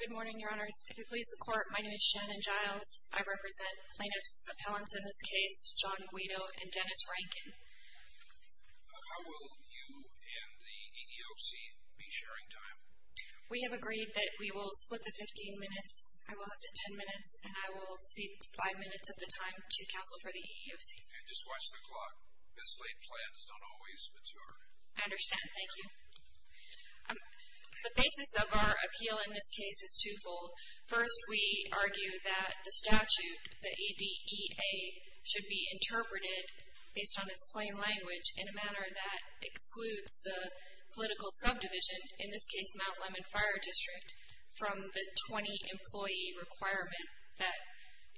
Good morning, your honors. If you'll please the court, my name is Shannon Giles. I represent plaintiffs' appellants in this case, John Guido and Dennis Rankin. How will you and the EEOC be sharing time? We have agreed that we will split the 15 minutes. I will have the 10 minutes and I will cede 5 minutes of the time to counsel for the EEOC. And just watch the clock. Mislaid plans don't always mature. I understand. Thank you. The basis of our appeal in this case is twofold. First, we argue that the statute, the E.D.E.A., should be interpreted, based on its plain language, in a manner that excludes the political subdivision, in this case Mount Lemmon Fire District, from the 20 employee requirement that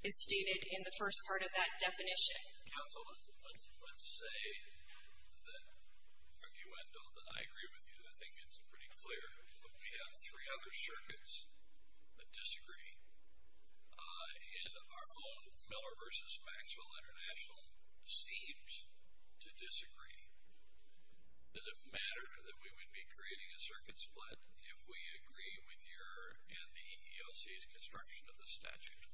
is stated in the first part of that definition. Counsel, let's say that, arguendo, that I agree with you. I think it's pretty clear. But we have three other circuits that disagree. And our own Miller v. Maxwell International seems to disagree. Does it matter that we would be creating a circuit split if we agree with your and the EEOC's construction of the statute?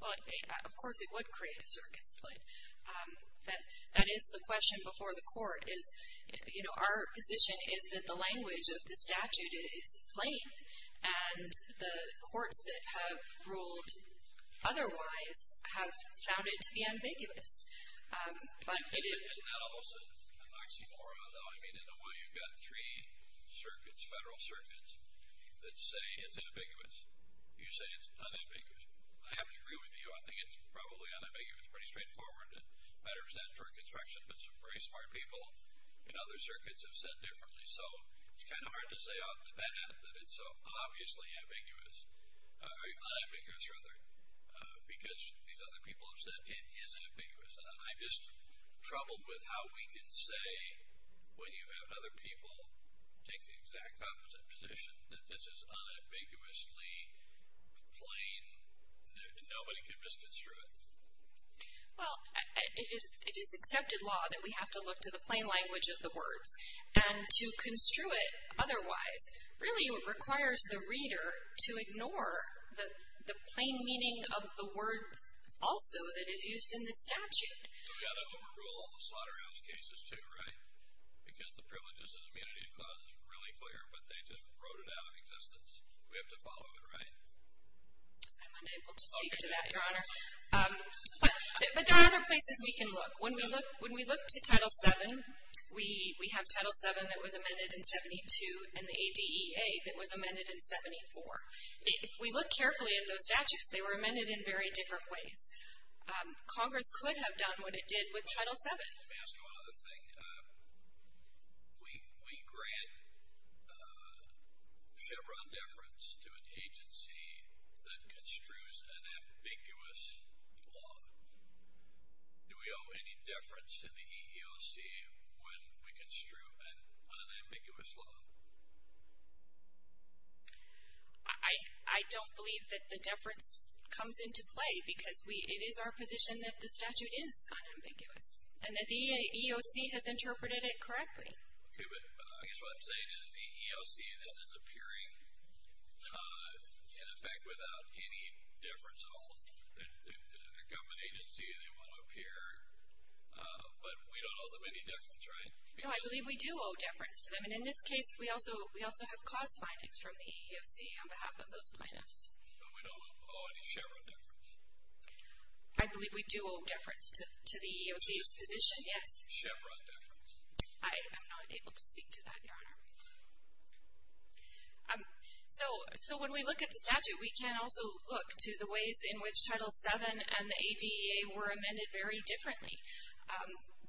Well, of course it would create a circuit split. That is the question before the court is, you know, our position is that the language of the statute is plain. And the courts that have ruled otherwise have found it to be ambiguous. It is, and not almost an oxymoron, though. I mean, in a way, you've got three circuits, federal circuits, that say it's ambiguous. You say it's unambiguous. I have to agree with you. I think it's probably unambiguous, pretty straightforward. It matters that for construction. But some very smart people in other circuits have said differently. So it's kind of hard to say off the bat that it's obviously ambiguous, unambiguous rather, because these other people have said it is ambiguous. And I'm just troubled with how we can say, when you have other people take the exact opposite position, that this is unambiguously plain, nobody can misconstrue it. Well, it is accepted law that we have to look to the plain language of the words. And to construe it otherwise really requires the reader to ignore the plain meaning of the word also that is used in the statute. We've got to overrule all the slaughterhouse cases, too, right? Because the privileges and immunity clause is really clear, but they just wrote it out of existence. We have to follow it, right? I'm unable to speak to that, Your Honor. But there are other places we can look. When we look to Title VII, we have Title VII that was amended in 72, and the ADEA that was amended in 74. If we look carefully at those statutes, they were amended in very different ways. Congress could have done what it did with Title VII. And let me ask you one other thing. We grant Chevron deference to an agency that construes an ambiguous law. Do we owe any deference to the EEOC when we construe an unambiguous law? I don't believe that the deference comes into play, because it is our position that the statute is unambiguous and that the EEOC has interpreted it correctly. Okay, but I guess what I'm saying is the EEOC then is appearing, in effect, without any deference at all. A government agency, they want to appear, but we don't owe them any deference, right? No, I believe we do owe deference to them. And in this case, we also have cause findings from the EEOC on behalf of those plaintiffs. But we don't owe any Chevron deference? I believe we do owe deference to the EEOC's position, yes. Chevron deference? I am not able to speak to that, Your Honor. So when we look at the statute, we can also look to the ways in which Title VII and the ADEA were amended very differently.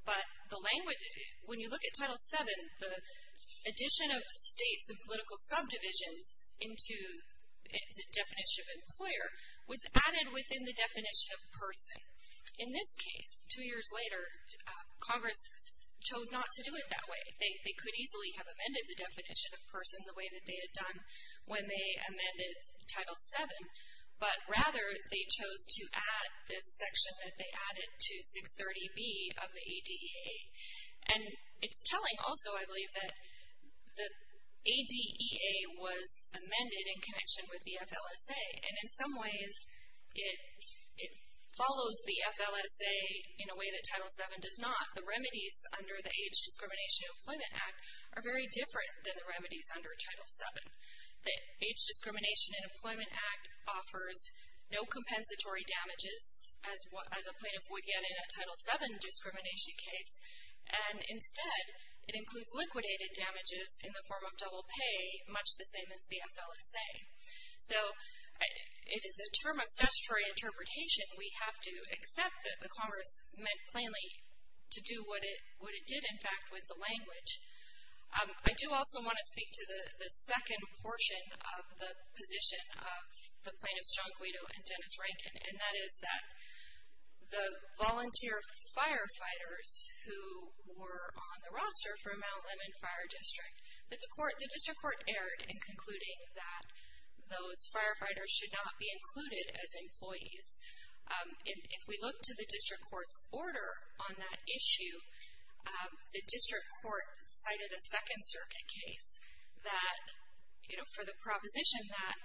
But the language, when you look at Title VII, the addition of states and political subdivisions into the definition of employer was added within the definition of person. In this case, two years later, Congress chose not to do it that way. They could easily have amended the definition of person the way that they had done when they amended Title VII. But rather, they chose to add this section that they added to 630B of the ADEA. And it's telling also, I believe, that the ADEA was amended in connection with the FLSA. And in some ways, it follows the FLSA in a way that Title VII does not. The remedies under the Age Discrimination and Employment Act are very different than the remedies under Title VII. The Age Discrimination and Employment Act offers no compensatory damages, as a plaintiff would get in a Title VII discrimination case. And instead, it includes liquidated damages in the form of double pay, much the same as the FLSA. So it is a term of statutory interpretation. We have to accept that the Congress meant plainly to do what it did, in fact, with the language. I do also want to speak to the second portion of the position of the plaintiffs, John Guido and Dennis Rankin, and that is that the volunteer firefighters who were on the roster for Mount Lemmon Fire District, that the District Court erred in concluding that those firefighters should not be included as employees. If we look to the District Court's order on that issue, the District Court cited a Second Circuit case that, you know, for the proposition that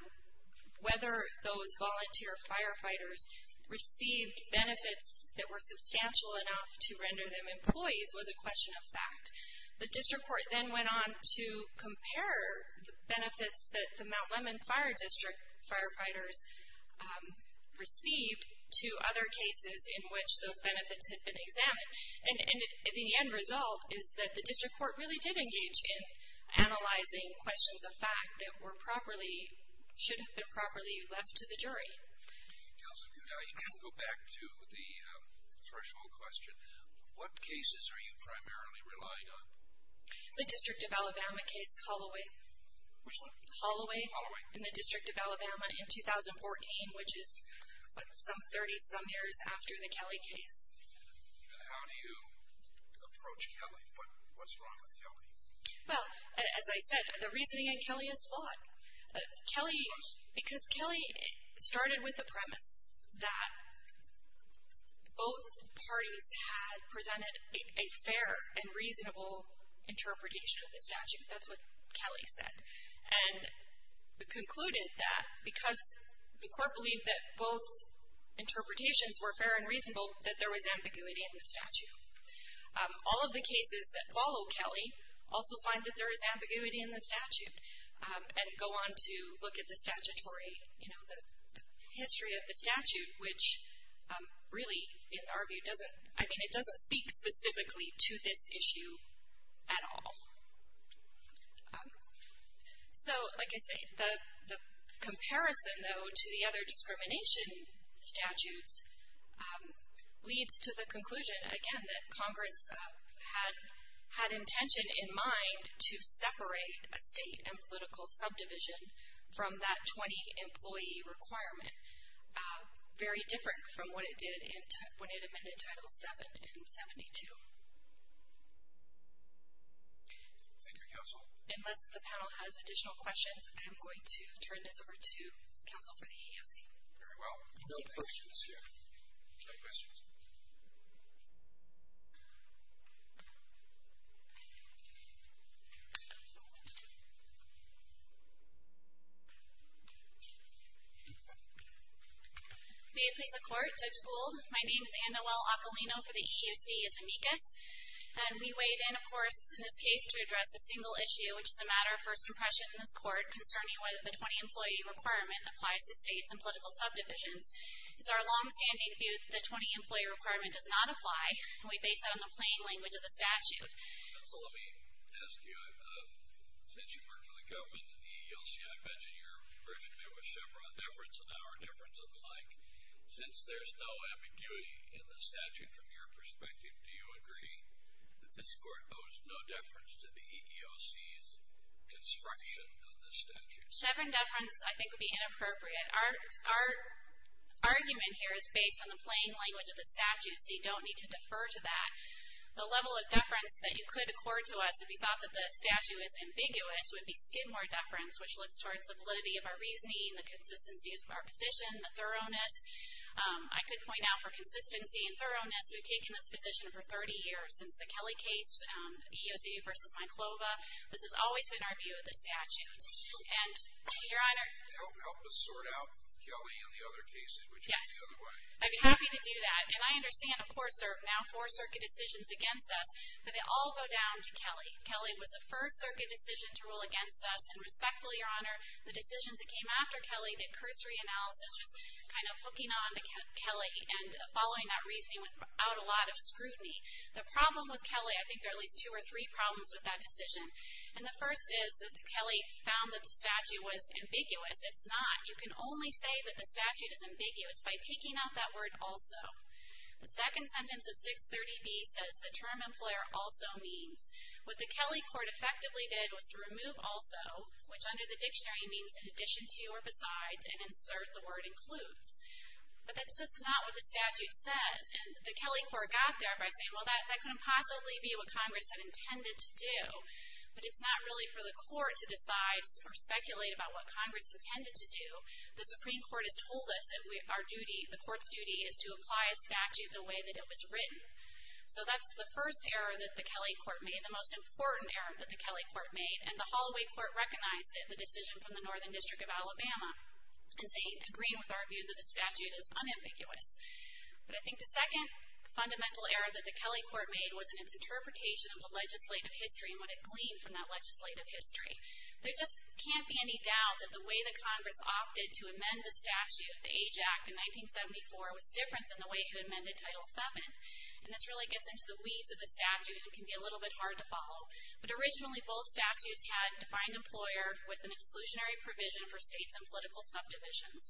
whether those volunteer firefighters received benefits that were substantial enough to render them employees was a question of fact. The District Court then went on to compare the benefits that the Mount Lemmon Fire District firefighters received to other cases in which those benefits had been examined. And the end result is that the District Court really did engage in analyzing questions of fact that were properly, should have been properly left to the jury. Now, you can go back to the threshold question. What cases are you primarily relying on? The District of Alabama case, Holloway. Which one? Holloway. Holloway. In the District of Alabama in 2014, which is, what, some 30-some years after the Kelly case. How do you approach Kelly? What's wrong with Kelly? Well, as I said, the reasoning in Kelly is flawed. Kelly, because Kelly started with the premise that both parties had presented a fair and reasonable interpretation of the statute. That's what Kelly said. And concluded that because the court believed that both interpretations were fair and reasonable, that there was ambiguity in the statute. All of the cases that follow Kelly also find that there is ambiguity in the statute and go on to look at the statutory, you know, the history of the statute, which really in our view doesn't, I mean, it doesn't speak specifically to this issue at all. So, like I say, the comparison, though, to the other discrimination statutes leads to the conclusion, again, that Congress had intention in mind to separate a state and political subdivision from that 20-employee requirement. Very different from what it did when it amended Title VII in 72. Thank you, Counsel. Unless the panel has additional questions, I'm going to turn this over to Counsel for the EEOC. Very well. No questions here. No questions. May it please the Court. Judge Gould, my name is Anna Well-Occolino for the EEOC as amicus. And we weighed in, of course, in this case to address a single issue, which is the matter of first impression in this court concerning whether the 20-employee requirement applies to states and political subdivisions. It's our longstanding view that the 20-employee requirement does not apply, and we base that on the plain language of the statute. Counsel, let me ask you, since you work for the government and the EEOC, I imagine you're very familiar with Chevron deference and our deference and the like. Since there's no ambiguity in the statute from your perspective, do you agree that this court owes no deference to the EEOC's construction of this statute? Chevron deference I think would be inappropriate. Our argument here is based on the plain language of the statute, so you don't need to defer to that. The level of deference that you could accord to us if you thought that the statute was ambiguous would be Skidmore deference, which looks towards the validity of our reasoning, the consistency of our position, the thoroughness. I could point out for consistency and thoroughness, we've taken this position for 30 years. Since the Kelly case, EEOC v. Myclova, this has always been our view of the statute. And, Your Honor. Help us sort out Kelly and the other cases, which are the other way. Yes. I'd be happy to do that. And I understand, of course, there are now four circuit decisions against us, but they all go down to Kelly. Kelly was the first circuit decision to rule against us, and respectfully, Your Honor, the decisions that came after Kelly, that cursory analysis was kind of hooking on to Kelly and following that reasoning without a lot of scrutiny. The problem with Kelly, I think there are at least two or three problems with that decision. And the first is that Kelly found that the statute was ambiguous. It's not. You can only say that the statute is ambiguous by taking out that word also. The second sentence of 630B says the term employer also means. What the Kelly court effectively did was to remove also, which under the dictionary means in addition to or besides, and insert the word includes. But that's just not what the statute says. And the Kelly court got there by saying, well, that couldn't possibly be what Congress had intended to do. But it's not really for the court to decide or speculate about what Congress intended to do. The Supreme Court has told us that our duty, the court's duty, is to apply a statute the way that it was written. So that's the first error that the Kelly court made, the most important error that the Kelly court made. And the Holloway court recognized it, the decision from the Northern District of Alabama, in agreeing with our view that the statute is unambiguous. But I think the second fundamental error that the Kelly court made was in its interpretation of the legislative history and what it gleaned from that legislative history. There just can't be any doubt that the way that Congress opted to amend the statute, the Age Act in 1974, was different than the way it had amended Title VII. And this really gets into the weeds of the statute and can be a little bit hard to follow. But originally, both statutes had defined employer with an exclusionary provision for states and political subdivisions.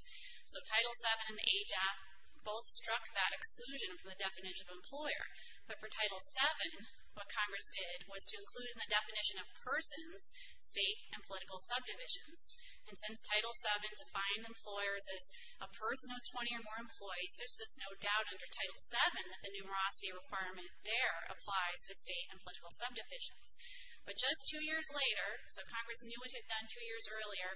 So Title VII and the Age Act both struck that exclusion from the definition of employer. But for Title VII, what Congress did was to include in the definition of persons, state and political subdivisions. And since Title VII defined employers as a person of 20 or more employees, there's just no doubt under Title VII that the numerosity requirement there applies to state and political subdivisions. But just two years later, so Congress knew what it had done two years earlier,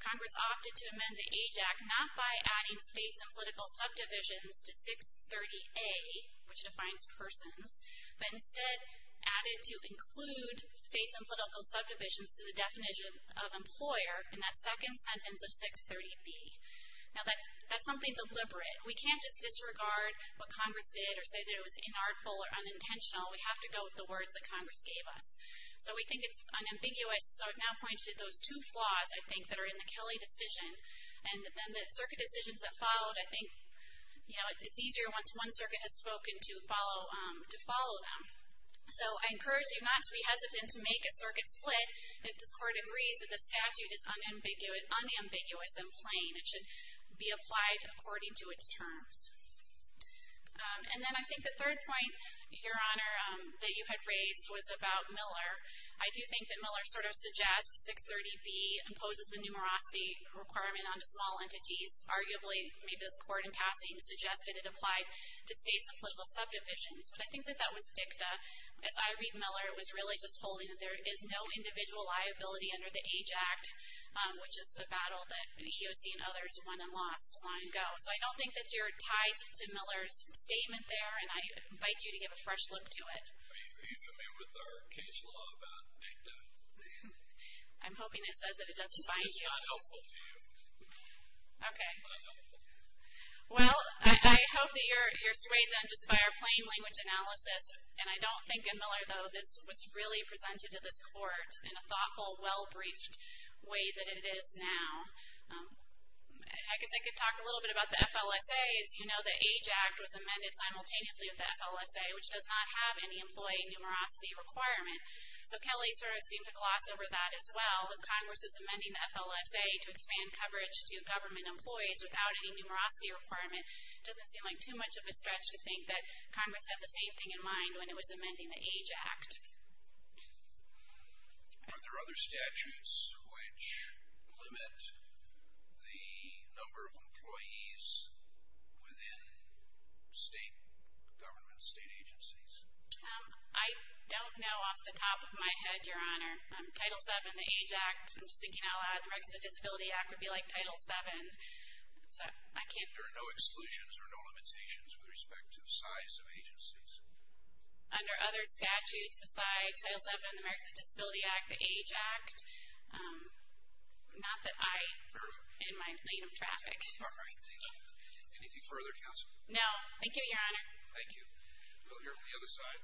Congress opted to amend the Age Act not by adding states and political subdivisions to 630A, which defines persons, but instead added to include states and political subdivisions to the definition of employer in that second sentence of 630B. Now that's something deliberate. We can't just disregard what Congress did or say that it was inartful or unintentional. We have to go with the words that Congress gave us. So we think it's unambiguous. So I've now pointed to those two flaws, I think, that are in the Kelly decision. And then the circuit decisions that followed, I think, you know, it's easier once one circuit has spoken to follow them. So I encourage you not to be hesitant to make a circuit split if this Court agrees that the statute is unambiguous and plain and should be applied according to its terms. And then I think the third point, Your Honor, that you had raised was about Miller. I do think that Miller sort of suggests 630B imposes the numerosity requirement onto small entities. Arguably, maybe this Court, in passing, suggested it applied to states and political subdivisions. But I think that that was dicta. As I read Miller, it was really just holding that there is no individual liability under the Age Act, which is the battle that EEOC and others won and lost long ago. So I don't think that you're tied to Miller's statement there, and I invite you to give a fresh look to it. He's in there with our case law about dicta. I'm hoping it says that it doesn't bind you. It's not helpful to you. Okay. It's not helpful. Well, I hope that you're swayed, then, just by our plain language analysis. And I don't think in Miller, though, this was really presented to this Court in a thoughtful, well-briefed way that it is now. I could talk a little bit about the FLSA. As you know, the Age Act was amended simultaneously with the FLSA, which does not have any employee numerosity requirement. So Kelly sort of seemed to gloss over that as well. If Congress is amending the FLSA to expand coverage to government employees without any numerosity requirement, it doesn't seem like too much of a stretch to think that Congress had the same thing in mind when it was amending the Age Act. Are there other statutes which limit the number of employees within state government, state agencies? I don't know off the top of my head, Your Honor. Title VII, the Age Act, I'm just thinking out loud. The Registered Disability Act would be like Title VII. There are no exclusions or no limitations with respect to the size of agencies? Under other statutes besides Title VII, the Registered Disability Act, the Age Act, not that I am in my lane of traffic. Anything further, Counsel? No. Thank you, Your Honor. Thank you. We'll hear from the other side.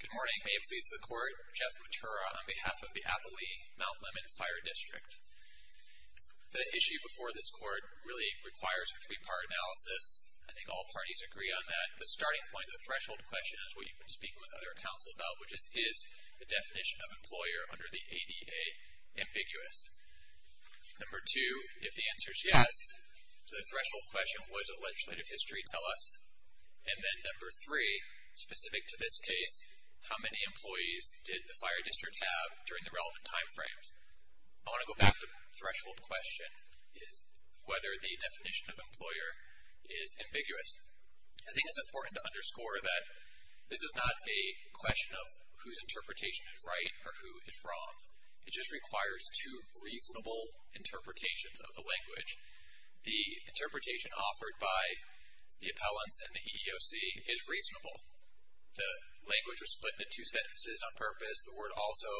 Good morning. May it please the Court. Jeff Matura on behalf of the Applee Mount Lemmon Fire District. The issue before this Court really requires a three-part analysis. I think all parties agree on that. The starting point of the threshold question is what you've been speaking with other counsel about, which is is the definition of employer under the ADA ambiguous? Number two, if the answer is yes to the threshold question, what does the legislative history tell us? And then number three, specific to this case, how many employees did the fire district have during the relevant time frames? I want to go back to the threshold question, is whether the definition of employer is ambiguous. I think it's important to underscore that this is not a question of whose interpretation is right or who is wrong. It just requires two reasonable interpretations of the language. The interpretation offered by the appellants and the EEOC is reasonable. The language was split into two sentences on purpose. The word also,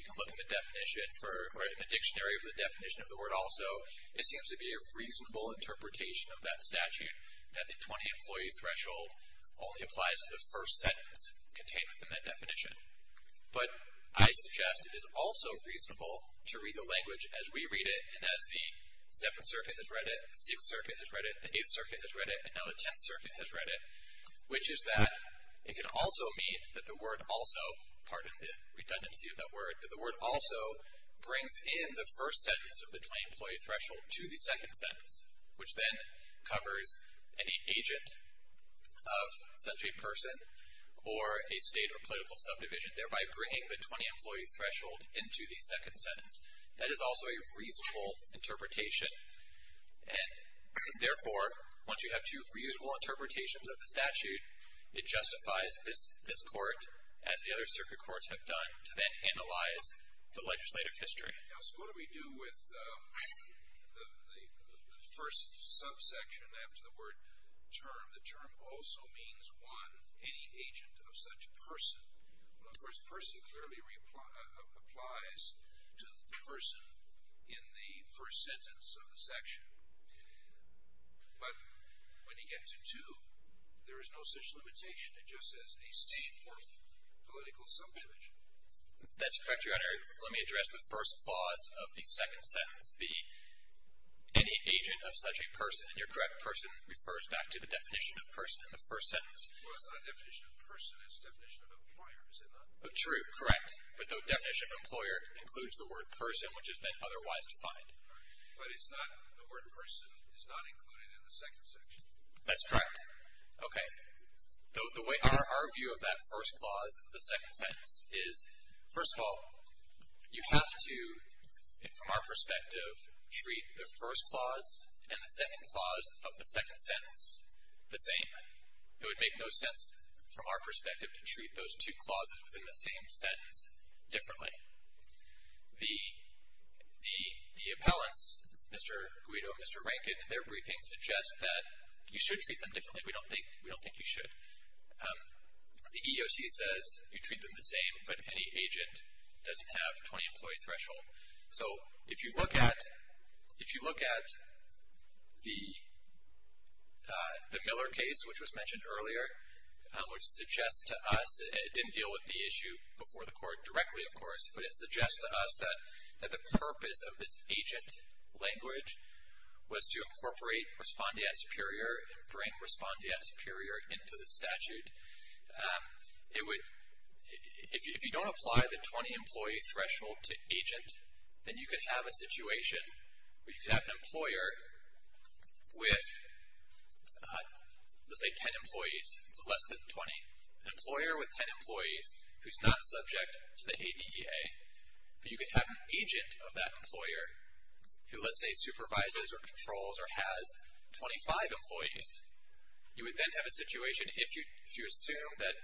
you can look in the dictionary for the definition of the word also. It seems to be a reasonable interpretation of that statute, that the 20-employee threshold only applies to the first sentence contained within that definition. But I suggest it is also reasonable to read the language as we read it and as the Seventh Circuit has read it, the Sixth Circuit has read it, the Eighth Circuit has read it, and now the Tenth Circuit has read it, which is that it can also mean that the word also, pardon the redundancy of that word, but the word also brings in the first sentence of the 20-employee threshold to the second sentence, which then covers any agent of such a person or a state or political subdivision, thereby bringing the 20-employee threshold into the second sentence. That is also a reasonable interpretation. And therefore, once you have two reasonable interpretations of the statute, it justifies this court, as the other circuit courts have done, to then analyze the legislative history. Now, so what do we do with the first subsection after the word term? The term also means, one, any agent of such person. Of course, person clearly applies to the person in the first sentence of the section. But when you get to two, there is no such limitation. It just says a state or political subdivision. That's correct, Your Honor. Let me address the first clause of the second sentence, the any agent of such a person. And your correct person refers back to the definition of person in the first sentence. Well, it's not a definition of person. It's a definition of employer, is it not? True, correct. But the definition of employer includes the word person, which is then otherwise defined. But it's not, the word person is not included in the second section. That's correct. Okay. Our view of that first clause of the second sentence is, first of all, you have to, from our perspective, treat the first clause and the second clause of the second sentence the same. It would make no sense, from our perspective, to treat those two clauses within the same sentence differently. The appellants, Mr. Guido and Mr. Rankin, in their briefing, suggest that you should treat them differently. We don't think you should. The EEOC says you treat them the same, but any agent doesn't have a 20-employee threshold. So if you look at the Miller case, which was mentioned earlier, which suggests to us, it didn't deal with the issue before the court directly, of course, but it suggests to us that the purpose of this agent language was to incorporate respondeat superior and bring respondeat superior into the statute. If you don't apply the 20-employee threshold to agent, then you could have a situation where you could have an employer with, let's say, 10 employees, so less than 20, an employer with 10 employees who's not subject to the ADEA, but you could have an agent of that employer who, let's say, supervises or controls or has 25 employees. You would then have a situation, if you assume that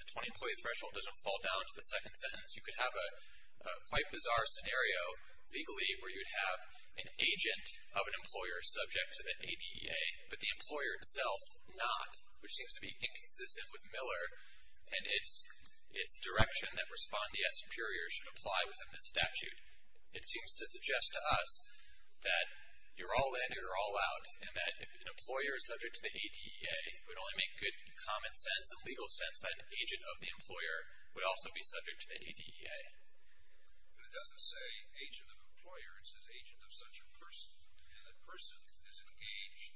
the 20-employee threshold doesn't fall down to the second sentence, you could have a quite bizarre scenario legally where you'd have an agent of an employer subject to the ADEA, but the employer itself not, which seems to be inconsistent with Miller and its direction that respondeat superior should apply within this statute. It seems to suggest to us that you're all in, you're all out, and that if an employer is subject to the ADEA, it would only make good common sense and legal sense that an agent of the employer would also be subject to the ADEA. But it doesn't say agent of an employer. It says agent of such a person, and that person is engaged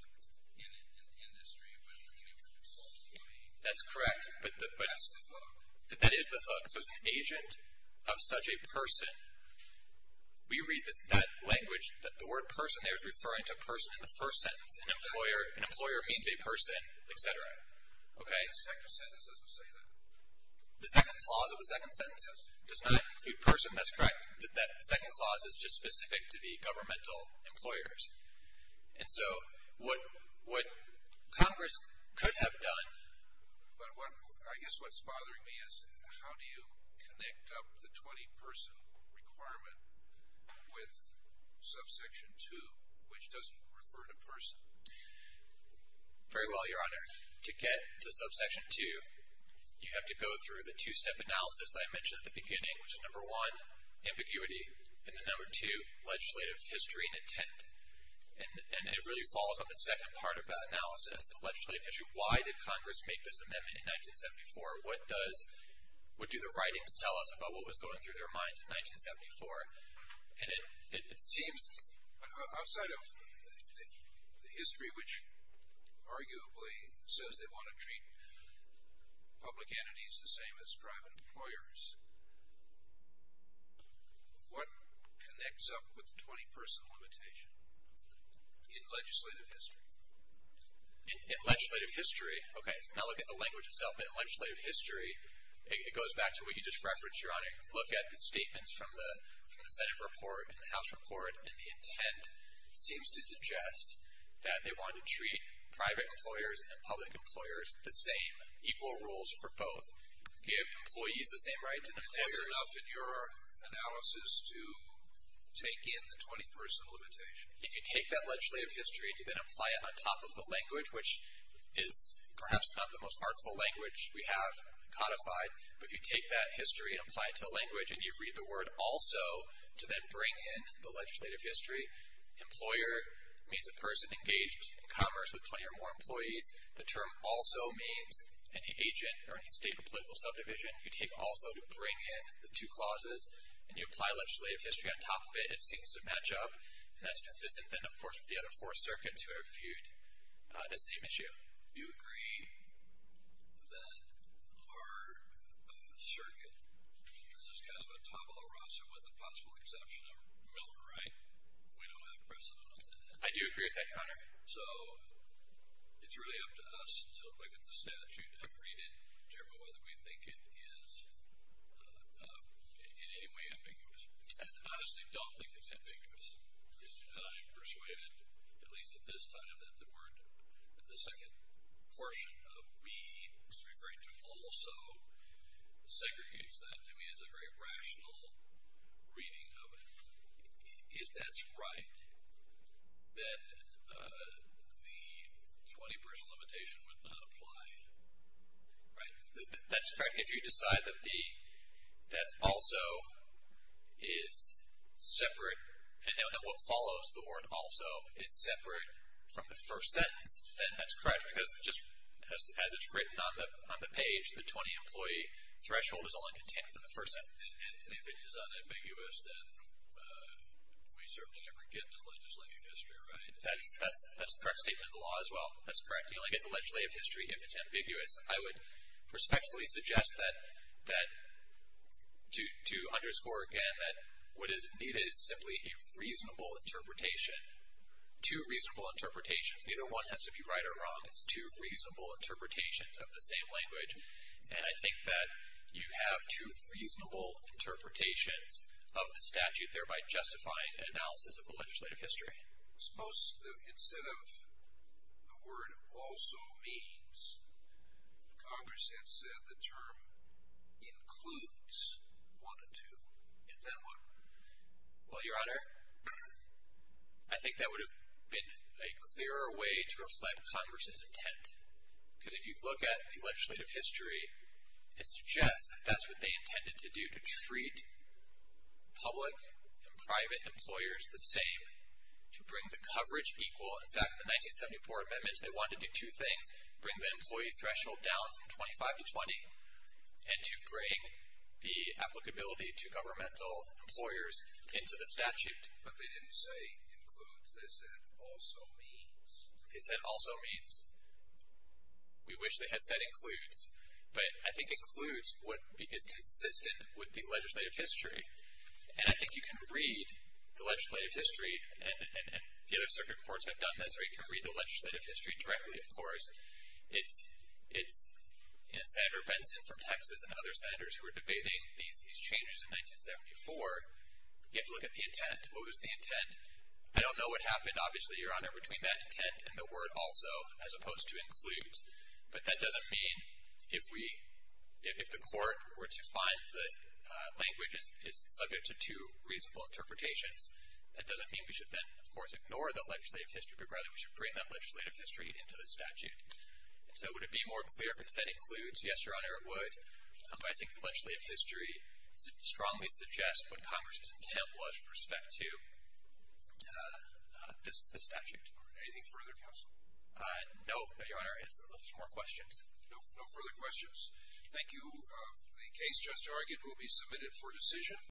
in an industry with 20 employees. That's correct, but that is the hook. So it's an agent of such a person. We read that language that the word person there is referring to a person in the first sentence. An employer means a person, et cetera. Okay? The second sentence doesn't say that. The second clause of the second sentence does not include person. That's correct. That second clause is just specific to the governmental employers. And so what Congress could have done. I guess what's bothering me is how do you connect up the 20-person requirement with subsection 2, which doesn't refer to person. Very well, Your Honor. To get to subsection 2, you have to go through the two-step analysis that I mentioned at the beginning, which is number one, ambiguity, and then number two, legislative history and intent. And it really falls on the second part of that analysis, the legislative history. Why did Congress make this amendment in 1974? What do the writings tell us about what was going through their minds in 1974? And it seems outside of the history, which arguably says they want to treat public entities the same as private employers, what connects up with the 20-person limitation in legislative history? In legislative history, okay, now look at the language itself. In legislative history, it goes back to what you just referenced, Your Honor. Look at the statements from the Senate report and the House report, and the intent seems to suggest that they want to treat private employers and public employers the same, equal roles for both. Give employees the same rights as employers. And that's enough in your analysis to take in the 20-person limitation? If you take that legislative history and you then apply it on top of the language, which is perhaps not the most artful language we have codified, but if you take that history and apply it to a language and you read the word also to then bring in the legislative history, employer means a person engaged in commerce with 20 or more employees. The term also means an agent or any state or political subdivision. You take also to bring in the two clauses, and you apply legislative history on top of it. It seems to match up, and that's consistent then, of course, with the other four circuits who have viewed the same issue. You agree that our circuit, this is kind of a tabula rasa, with the possible exception of Milton, right? We don't have precedent on that. I do agree with that, Connor. So it's really up to us to look at the statute and read it to determine whether we think it is in any way ambiguous. I honestly don't think it's ambiguous. I'm persuaded, at least at this time, that the word, that the second portion of B is referring to also segregates that to me as a very rational reading of it. If that's right, then the 20-person limitation would not apply, right? That's correct. If you decide that also is separate, and what follows the word also is separate from the first sentence, then that's correct. Because just as it's written on the page, the 20-employee threshold is only contained within the first sentence. And if it is unambiguous, then we certainly never get to legislative history, right? That's a correct statement of the law as well. That's correct. You only get the legislative history if it's ambiguous. I would respectfully suggest that, to underscore again, that what is needed is simply a reasonable interpretation, two reasonable interpretations. Neither one has to be right or wrong. It's two reasonable interpretations of the same language. And I think that you have two reasonable interpretations of the statute, thereby justifying an analysis of the legislative history. Suppose instead of the word also means, Congress had said the term includes one and two, and then what? Well, Your Honor, I think that would have been a clearer way to reflect Congress's intent. Because if you look at the legislative history, it suggests that that's what they intended to do, to treat public and private employers the same, to bring the coverage equal. In fact, in the 1974 amendments, they wanted to do two things, bring the employee threshold down from 25 to 20, and to bring the applicability to governmental employers into the statute. But they didn't say includes. They said also means. They said also means. We wish they had said includes. But I think includes is consistent with the legislative history. And I think you can read the legislative history, and the other circuit courts have done this, or you can read the legislative history directly, of course. It's Senator Benson from Texas and other senators who were debating these changes in 1974. You have to look at the intent. What was the intent? I don't know what happened, obviously, Your Honor, between that intent and the word also as opposed to includes. But that doesn't mean if the court were to find that language is subject to two reasonable interpretations, that doesn't mean we should then, of course, ignore that legislative history, but rather we should bring that legislative history into the statute. So would it be more clear if it said includes? Yes, Your Honor, it would. But I think the legislative history strongly suggests what Congress' intent was with respect to the statute. Anything further, counsel? No, Your Honor, unless there's more questions. No further questions. Thank you. The case just argued will be submitted for decision.